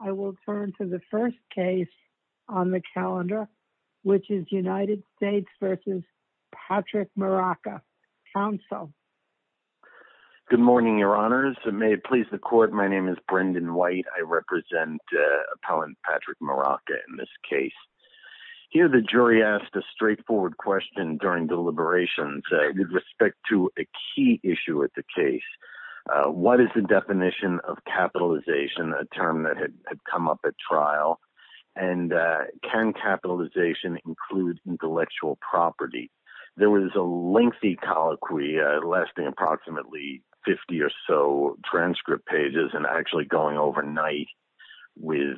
I will turn to the first case on the calendar, which is United States v. Patrick Muraca. Counsel. Good morning, Your Honors. May it please the Court, my name is Brendan White. I represent Appellant Patrick Muraca in this case. Here the jury asked a straightforward question during deliberations with respect to a key issue at the case. What is the definition of capitalization, a term that had come up at trial, and can capitalization include intellectual property? There was a lengthy colloquy lasting approximately 50 or so transcript pages and actually going overnight with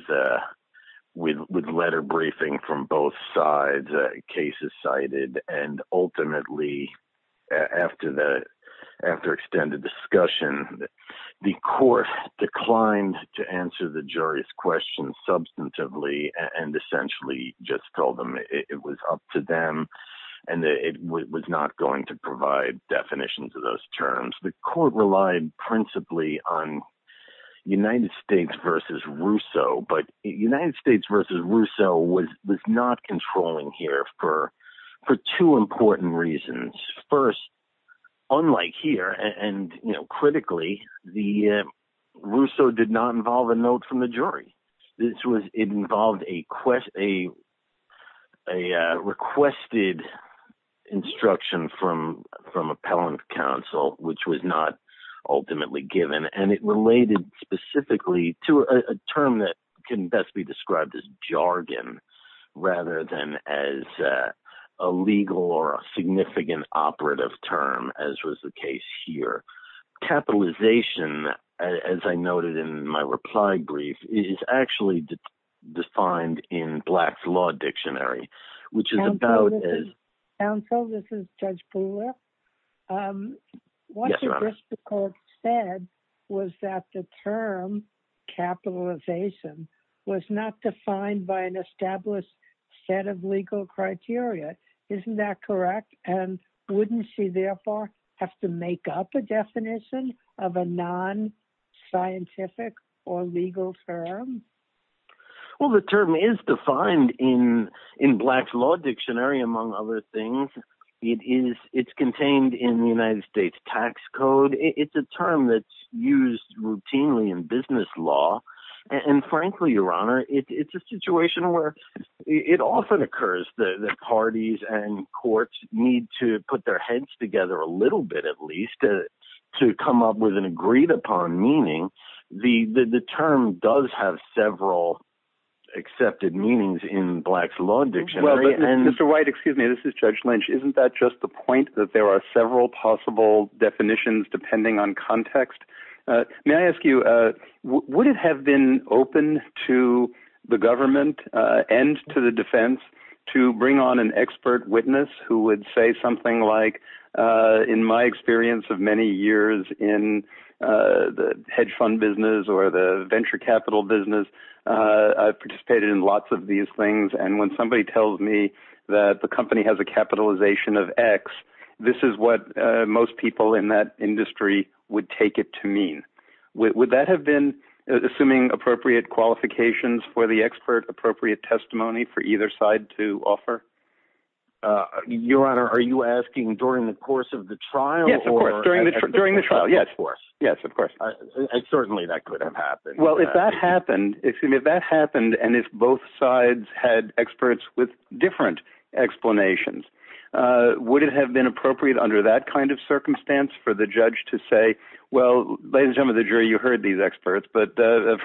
letter briefing from both sides, cases cited, and ultimately, after extended discussion, the Court declined to answer the jury's question substantively and essentially just told them it was up to them and that it was not going to provide definitions of those terms. The Court relied principally on United States v. Russo, but United States v. Russo was not controlling here for two important reasons. First, unlike here, and critically, Russo did not involve a note from the jury. It involved a requested instruction from Appellant Counsel, which was not ultimately given, and it related specifically to a term that can best be described as jargon, rather than as a legal or a significant operative term, as was the case here. Capitalization, as I noted in my reply brief, is actually defined in Black's Law Dictionary, which is about... Counsel, this is Judge Brewer. Yes, Your Honor. What the Court said was that the term capitalization was not defined by an established set of legal criteria. Isn't that correct? And wouldn't she, therefore, have to make up a definition of a non-scientific or legal term? Well, the term is defined in Black's Law Dictionary, among other things. It's contained in the United States Tax Code. It's a term that's used routinely in business law, and frankly, Your Honor, it's a situation where it often occurs that parties and courts need to put their heads together a little bit, at least, to come up with an agreed-upon meaning. The term does have several accepted meanings in Black's Law Dictionary. Mr. White, excuse me. This is Judge Lynch. Isn't that just the point, that there are several possible definitions, depending on context? May I ask you, would it have been open to the government and to the defense to bring on an expert witness who would say something like, in my experience of many years in the hedge fund business or the venture capital business, I've participated in lots of these things, and when somebody tells me that the company has a capitalization of X, this is what most people in that industry would take it to mean? Would that have been, assuming appropriate qualifications for the expert, appropriate testimony for either side to offer? Your Honor, are you asking during the course of the trial or... Yes, of course. During the trial, yes. During the trial, of course. Yes, of course. Certainly, that could have happened. Well, if that happened, and if both sides had experts with different explanations, would it have been appropriate under that kind of circumstance for the judge to say, well, ladies and gentlemen of the jury, you heard these experts, but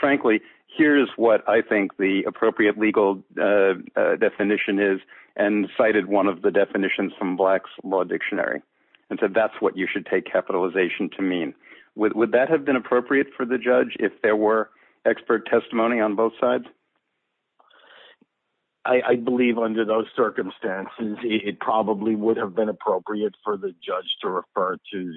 frankly, here's what I think the appropriate legal definition is, and cited one of the definitions from Black's Law Dictionary, and said that's what you should take capitalization to mean. Would that have been appropriate for the judge if there were expert testimony on both sides? I believe under those circumstances, it probably would have been appropriate for the judge to refer to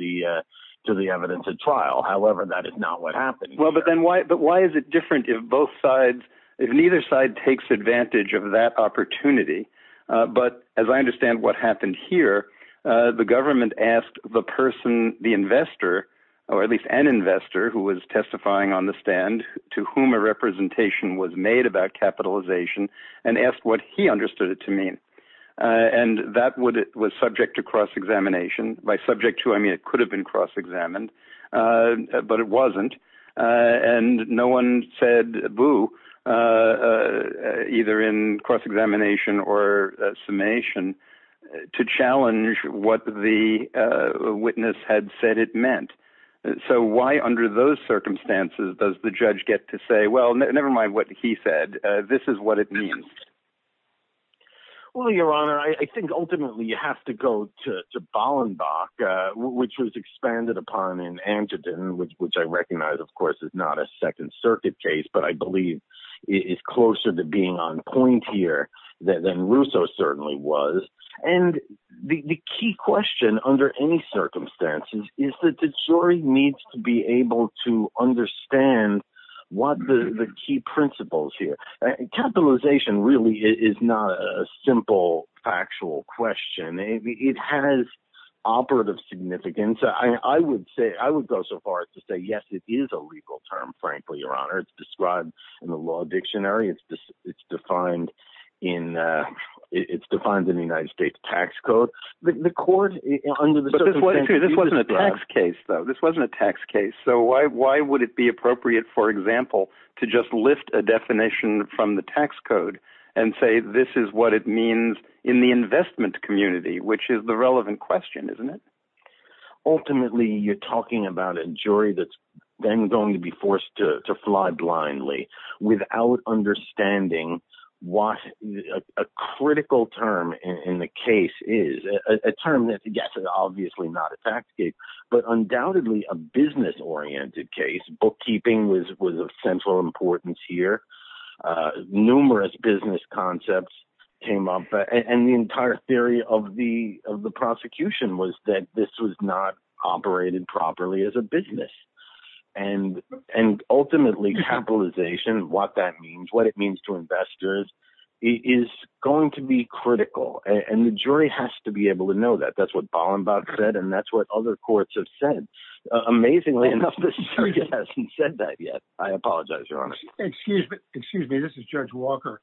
the evidence at trial. However, that is not what happened here. Well, but then why is it different if both sides, if neither side takes advantage of that opportunity, but as I understand what happened here, the government asked the person, the investor, or at least an investor who was testifying on the stand, to whom a representation was made about capitalization, and asked what he understood it to mean, and that was subject to cross-examination. By subject to, I mean it could have been cross-examined, but it wasn't, and no one said, boo, either in cross-examination or summation, to challenge what the witness had said it meant. So why under those circumstances does the judge get to say, well, never mind what he said. This is what it means. Well, Your Honor, I think ultimately, you have to go to Ballenbach, which was expanded upon in Antiton, which I recognize, of course, is not a Second Circuit case, but I believe it's closer to being on point here than Rousseau certainly was, and the key question under any circumstances is that the jury needs to be able to understand what the key principles here. Capitalization really is not a simple, factual question. It has operative significance. I would say, I would go so far as to say, yes, it is a legal term, frankly, Your Honor. It's described in the law dictionary. It's defined in the United States tax code. The court, under the circumstances, you describe- But this wasn't a tax case, though. This wasn't a tax case. So why would it be appropriate, for example, to just lift a definition from the tax code and say this is what it means in the investment community, which is the relevant question, isn't it? Ultimately, you're talking about a jury that's then going to be forced to fly blindly without understanding what a critical term in the case is, a term that, yes, is obviously not a tax case, but undoubtedly a business-oriented case. Bookkeeping was of central importance here. Numerous business concepts came up, and the entire theory of the prosecution was that this was not operated properly as a business. And ultimately, capitalization, what that means, what it means to investors, is going to be critical, and the jury has to be able to know that. That's what Ballenbach said, and that's what other courts have said. Amazingly enough, this jury hasn't said that yet. I apologize, Your Honor. Excuse me. This is Judge Walker.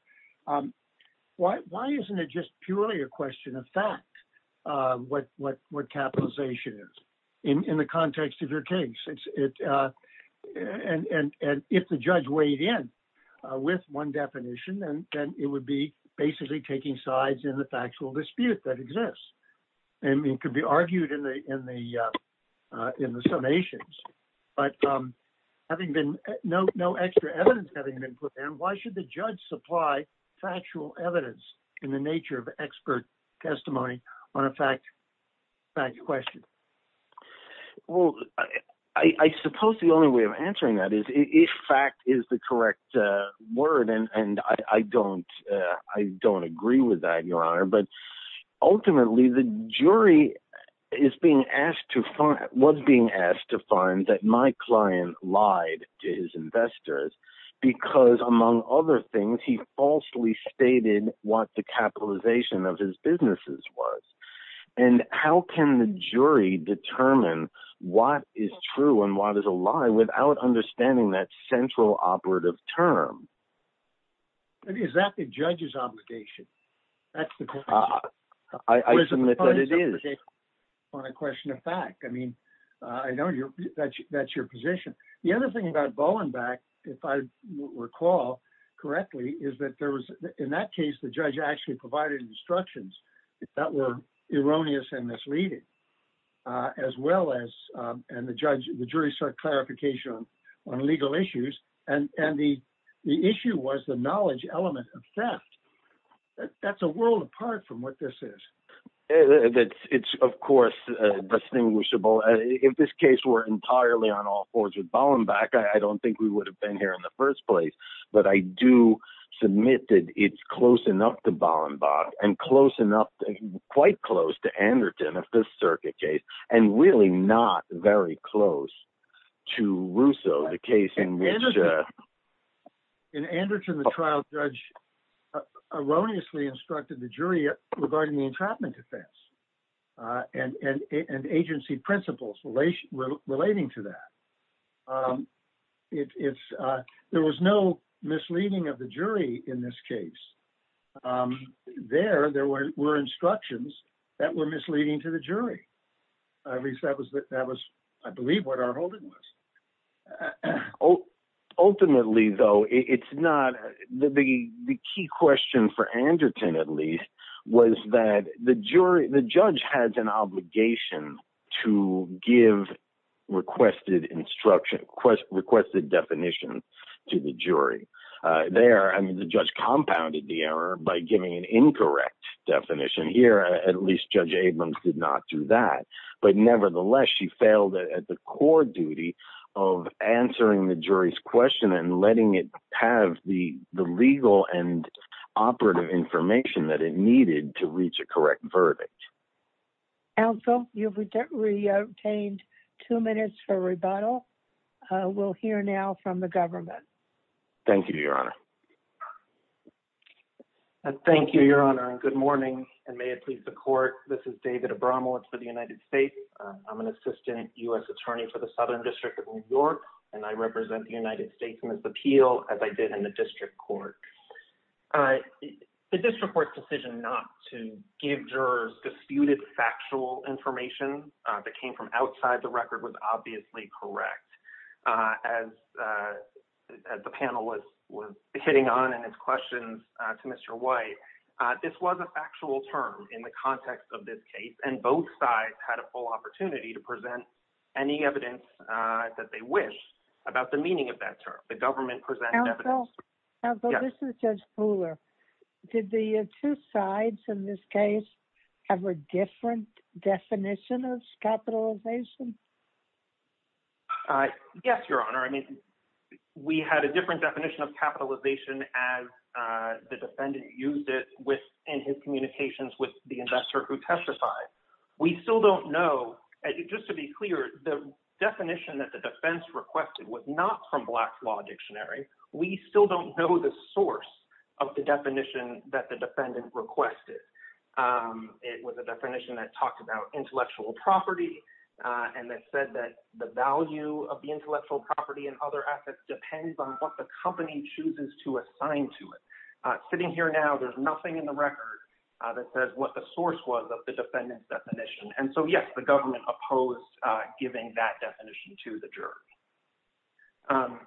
Why isn't it just purely a question of fact, what capitalization is, in the context of your case? And if the judge weighed in with one definition, then it would be basically taking sides in the factual dispute that exists. I mean, it could be argued in the summations, but having been no extra evidence having been Why should the judge supply factual evidence in the nature of expert testimony on a fact question? Well, I suppose the only way of answering that is if fact is the correct word. And I don't agree with that, Your Honor, but ultimately, the jury was being asked to find that my client lied to his investors because, among other things, he falsely stated what the capitalization of his businesses was. And how can the jury determine what is true and what is a lie without understanding that central operative term? Is that the judge's obligation? That's the question. I submit that it is. On a question of fact, I mean, I know that's your position. The other thing about Bollenbeck, if I recall correctly, is that there was in that case, the judge actually provided instructions that were erroneous and misleading, as well as and the judge, the jury start clarification on legal issues. And the issue was the knowledge element of theft. That's a world apart from what this is. It's, of course, distinguishable. If this case were entirely on all fours with Bollenbeck, I don't think we would have been here in the first place. But I do submit that it's close enough to Bollenbeck and close enough, quite close to Anderton of this circuit case, and really not very close to Russo, the case in which Anderton, the trial judge, erroneously instructed the jury regarding the entrapment defense and agency principles relating to that. There was no misleading of the jury in this case. There, there were instructions that were misleading to the jury. At least that was, I believe, what our holding was. Ultimately, though, it's not the key question for Anderton, at least, was that the jury, the judge has an obligation to give requested instruction, requested definition to the jury. There, I mean, the judge compounded the error by giving an incorrect definition. Here, at least Judge Abrams did not do that. But nevertheless, she failed at the core duty of answering the jury's question and letting it have the legal and operative information that it needed to reach a correct verdict. Counsel, you've re-obtained two minutes for rebuttal. We'll hear now from the government. Thank you, Your Honor. Thank you, Your Honor, and good morning, and may it please the court. This is David Abramowitz for the United States. I'm an assistant U.S. attorney for the Southern District of New York, and I represent the United States in this appeal, as I did in the district court. The district court's decision not to give jurors disputed factual information that came from outside the record was obviously correct. As the panel was hitting on in its questions to Mr. White, this was a factual term in the context of this case, and both sides had a full opportunity to present any evidence that they wish about the meaning of that term. The government presented evidence. Counsel, this is Judge Fuller. Did the two sides in this case have a different definition of capitalization? Yes, Your Honor. I mean, we had a different definition of capitalization as the defendant used it in his communications with the investor who testified. We still don't know. Just to be clear, the definition that the defense requested was not from Black's Law Dictionary. We still don't know the source of the definition that the defendant requested. It was a definition that talked about intellectual property and that said that the value of intellectual property and other assets depends on what the company chooses to assign to it. Sitting here now, there's nothing in the record that says what the source was of the defendant's definition. And so, yes, the government opposed giving that definition to the jurors.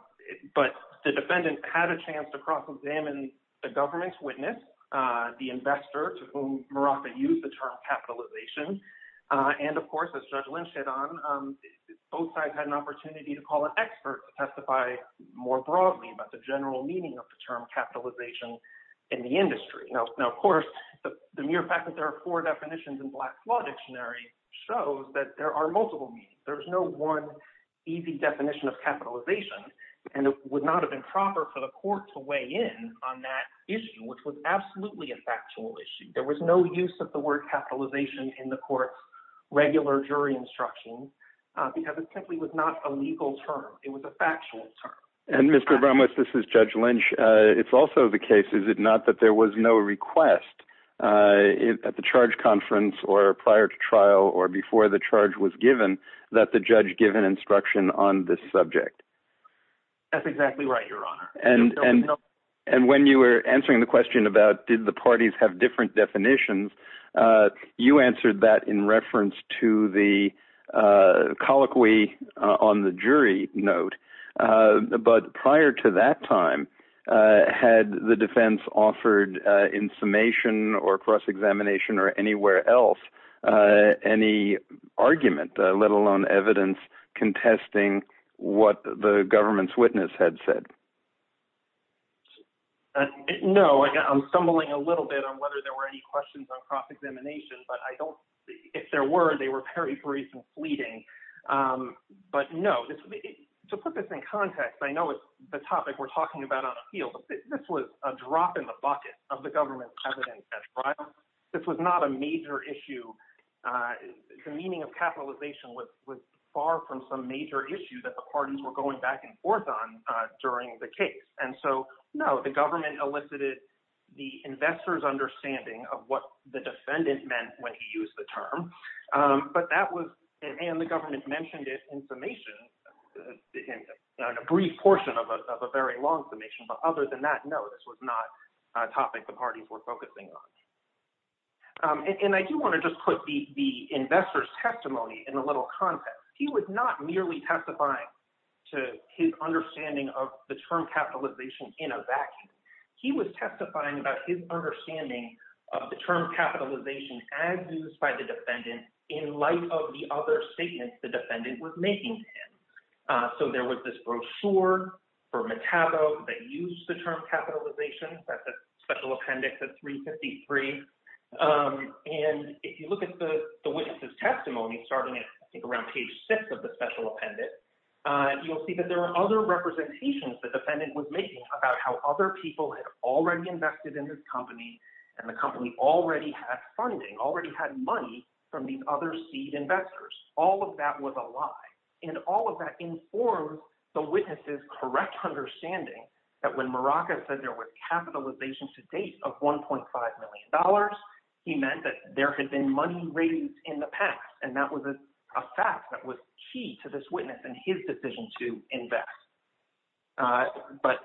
But the defendant had a chance to cross-examine the government's witness, the investor to whom Murafa used the term capitalization. And, of course, as Judge Lynch said, both sides had an opportunity to call an expert to testify more broadly about the general meaning of the term capitalization in the industry. Now, of course, the mere fact that there are four definitions in Black's Law Dictionary shows that there are multiple meanings. There's no one easy definition of capitalization, and it would not have been proper for the court to weigh in on that issue, which was absolutely a factual issue. There was no use of the word capitalization in the court's regular jury instruction because it simply was not a legal term. It was a factual term. And, Mr. Abramowitz, this is Judge Lynch. It's also the case, is it not, that there was no request at the charge conference or prior to trial or before the charge was given that the judge give an instruction on this subject? That's exactly right, Your Honor. And when you were answering the question about did the parties have different definitions, you answered that in reference to the colloquy on the jury note. But prior to that time, had the defense offered in summation or cross-examination or anywhere else any argument, let alone evidence, contesting what the government's witness had said? No, I'm stumbling a little bit on whether there were any questions on cross-examination, but if there were, they were very brief and fleeting. But no, to put this in context, I know it's the topic we're talking about on appeal, but this was a drop in the bucket of the government's evidence at trial. This was not a major issue. The meaning of capitalization was far from some major issue that the parties were going back and forth on during the case. And so, no, the government elicited the investor's understanding of what the defendant meant when he used the term. But that was, and the government mentioned it in summation, in a brief portion of a very long summation. But other than that, no, this was not a topic the parties were focusing on. And I do want to just put the investor's testimony in a little context. He was not merely testifying to his understanding of the term capitalization in a vacuum. He was testifying about his understanding of the term capitalization as used by the defendant in light of the other statements the defendant was making. So there was this brochure for Metabo that used the term capitalization. That's a special appendix of 353. And if you look at the witness's testimony, starting at, I think, around page six of the special appendix, you'll see that there are other representations that the defendant was making about how other people had already invested in his company and the company already had funding, already had money from these other seed investors. All of that was a lie. And all of that informs the witness's correct understanding that when Morocco said there was capitalization to date of $1.5 million, he meant that there had been money raised in the past. And that was a fact that was key to this witness and his decision to invest. But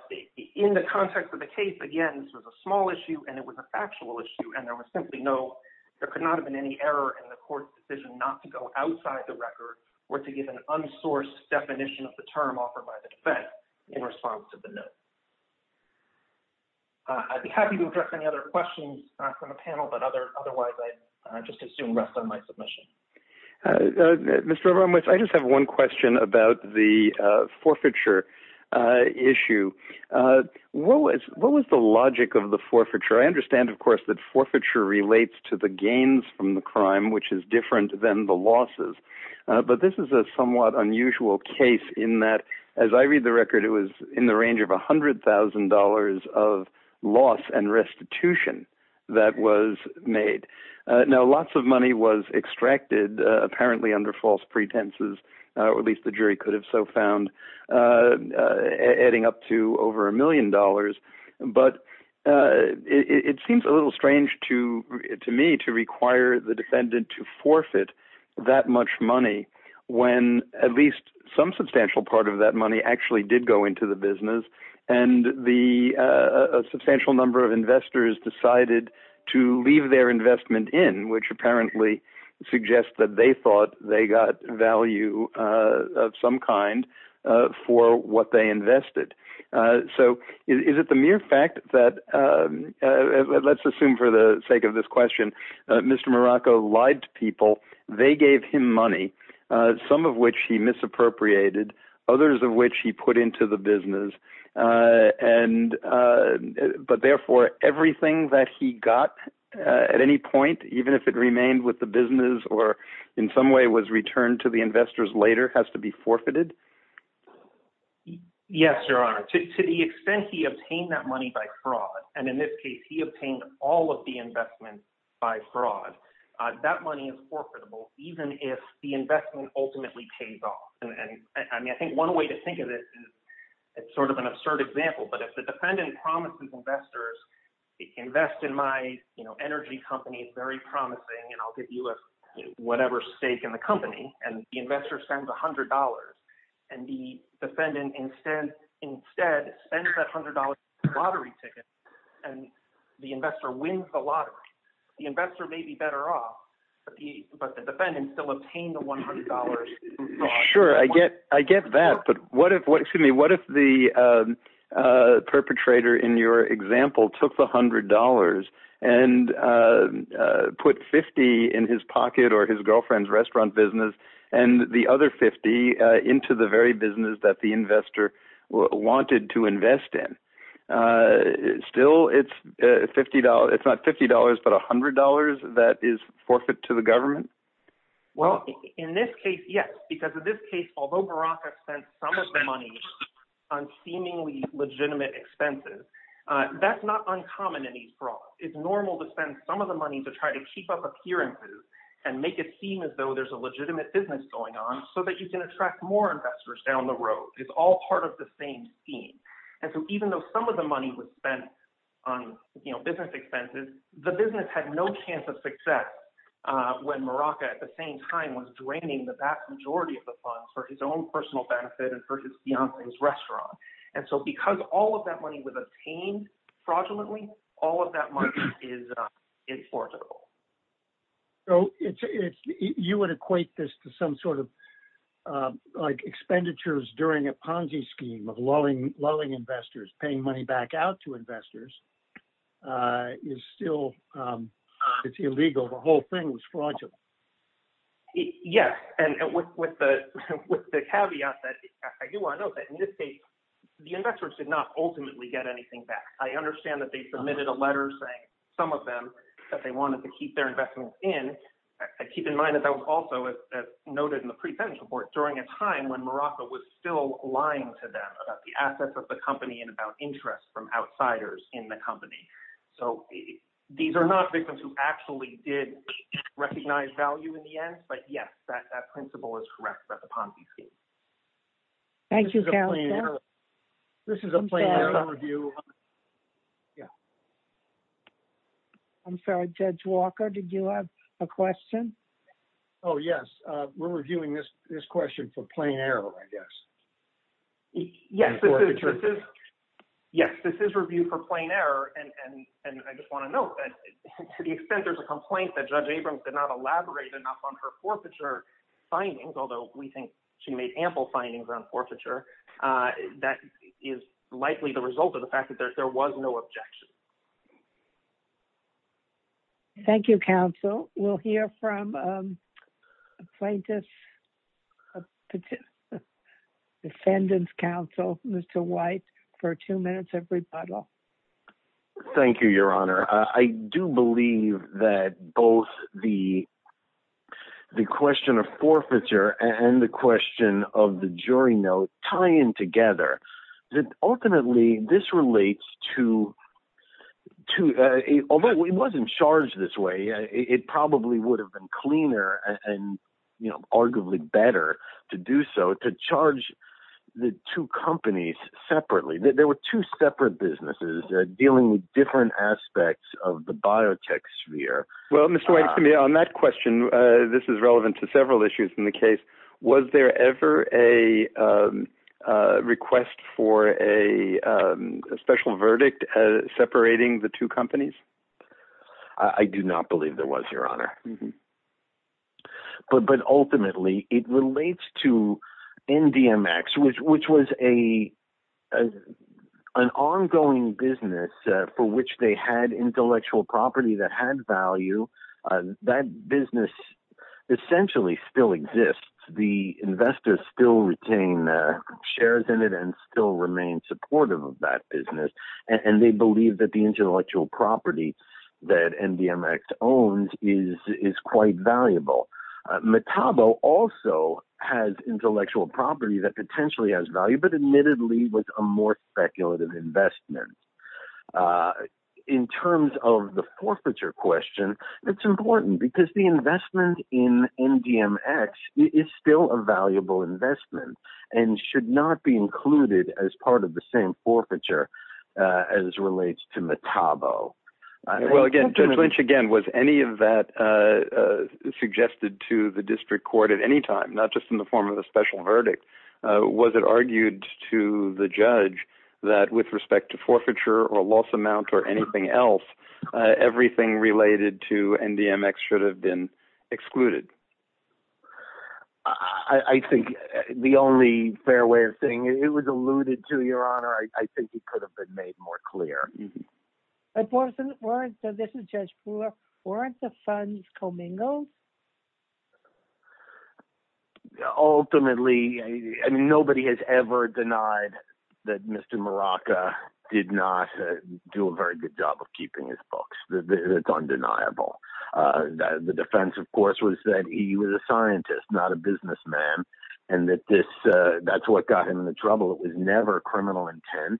in the context of the case, again, this was a small issue and it was a factual issue. And there was simply no, there could not have been any error in the court's decision not to go outside the record or to give an unsourced definition of the term offered by the defense in response to the note. I'd be happy to address any other questions from the panel, but otherwise I'd just assume rest on my submission. Mr. Abramowitz, I just have one question about the forfeiture issue. What was the logic of the forfeiture? I understand, of course, that forfeiture relates to the gains from the crime, which is different than the losses. But this is a somewhat unusual case in that, as I read the record, it was in the range of one hundred thousand dollars of loss and restitution that was made. Now, lots of money was extracted, apparently under false pretenses, or at least the jury could have so found adding up to over a million dollars. But it seems a little strange to me to require the defendant to forfeit that much money when at least some substantial part of that money actually did go into the business. And the substantial number of investors decided to leave their investment in, which apparently suggests that they thought they got value of some kind for what they invested. So is it the mere fact that let's assume for the sake of this question, Mr. Morocco lied to people. They gave him money, some of which he misappropriated, others of which he put into the business. And but therefore everything that he got at any point, even if it remained with the business or in some way was returned to the investors later, has to be forfeited. Yes, Your Honor, to the extent he obtained that money by fraud, and in this case he obtained all of the investment by fraud, that money is forfeitable even if the it's sort of an absurd example. But if the defendant promises investors, invest in my energy company is very promising and I'll give you whatever stake in the company and the investor spends one hundred dollars and the defendant instead spends that hundred dollars in lottery tickets and the investor wins the lottery, the investor may be better off, but the defendant still obtained the one hundred dollars. Sure, I get I get that. But what if what excuse me, what if the perpetrator in your example took the hundred dollars and put 50 in his pocket or his girlfriend's restaurant business and the other 50 into the very business that the investor wanted to invest in? Still, it's fifty dollars. It's not fifty dollars, but one hundred dollars that is forfeit to the government. Well, in this case, yes, because in this case, although Barack has spent some of the money on seemingly legitimate expenses, that's not uncommon in these frauds. It's normal to spend some of the money to try to keep up appearances and make it seem as though there's a legitimate business going on so that you can attract more investors down the road. It's all part of the same scheme. And so even though some of the money was spent on business expenses, the business had no chance of success when Morocco at the same time was draining the vast majority of the funds for his own personal benefit and for his fiance's restaurant. And so because all of that money was obtained fraudulently, all of that money is inflexible. So you would equate this to some sort of like expenditures during a Ponzi scheme of lulling, lulling investors, paying money back out to investors is still it's illegal. The whole thing was fraudulent. Yes, and with the with the caveat that I do want to note that in this case, the investors did not ultimately get anything back. I understand that they submitted a letter saying some of them that they wanted to keep their investments in. Keep in mind that that was also noted in the pretension report during a time when Morocco was still lying to them about the assets of the company and about interest from outsiders in the company. So these are not victims who actually did recognize value in the end. But yes, that that principle is correct that the Ponzi scheme. Thank you. This is a plan to review. Yeah. I'm sorry, Judge Walker, did you have a question? Oh, yes. We're reviewing this question for Plain Arrow, I guess. Yes. Yes, this is review for Plain Arrow, and I just want to note that to the extent there's a complaint that Judge Abrams did not elaborate enough on her forfeiture findings, although we think she made ample findings on forfeiture, that is likely the result of the fact that there was no objection. Thank you, counsel. We'll hear from plaintiff's defendant's counsel, Mr. White, for two minutes of rebuttal. Thank you, Your Honor. I do believe that both the the question of forfeiture and the question of the jury note tie in together that ultimately this relates to two. Although it wasn't charged this way, it probably would have been cleaner and arguably better to do so to charge the two companies separately. There were two separate businesses dealing with different aspects of the biotech sphere. Well, Mr. White, to me on that question, this is relevant to several issues in the case. Was there ever a request for a special verdict separating the two companies? I do not believe there was, Your Honor. But ultimately, it relates to NDMX, which was a an ongoing business for which they had intellectual property that had value. That business essentially still exists. The investors still retain shares in it and still remain supportive of that business. And they believe that the intellectual property that NDMX owns is quite valuable. Metabo also has intellectual property that potentially has value, but admittedly was a more speculative investment. In terms of the forfeiture question, it's important because the investment in NDMX is still a valuable investment and should not be included as part of the same forfeiture as relates to Metabo. Well, again, Judge Lynch, again, was any of that suggested to the district court at any time, not just in the form of a special verdict? Was it argued to the judge that with respect to forfeiture or a loss amount or anything else, everything related to NDMX should have been excluded? I think the only fair way of saying it was alluded to, Your Honor, I think it could have been made more clear. But this is Judge Brewer, weren't the funds commingled? Ultimately, I mean, nobody has ever denied that Mr. Maraca did not do a very good job of keeping his books. It's undeniable that the defense, of course, was that he was a scientist, not a businessman, and that this that's what got him in trouble. It was never a criminal intent.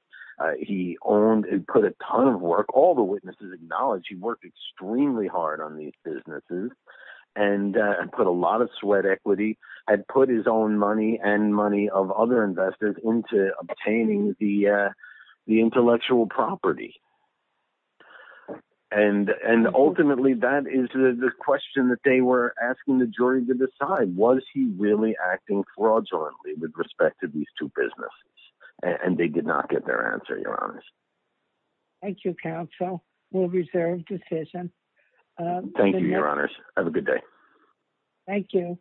He owned and put a ton of work. All the witnesses acknowledge he worked extremely hard on these businesses. And put a lot of sweat equity and put his own money and money of other investors into obtaining the intellectual property. And ultimately, that is the question that they were asking the jury to decide, was he really acting fraudulently with respect to these two businesses? And they did not get their answer, Your Honor. Thank you, counsel. We'll reserve decision. Thank you, Your Honors. Have a good day. Thank you.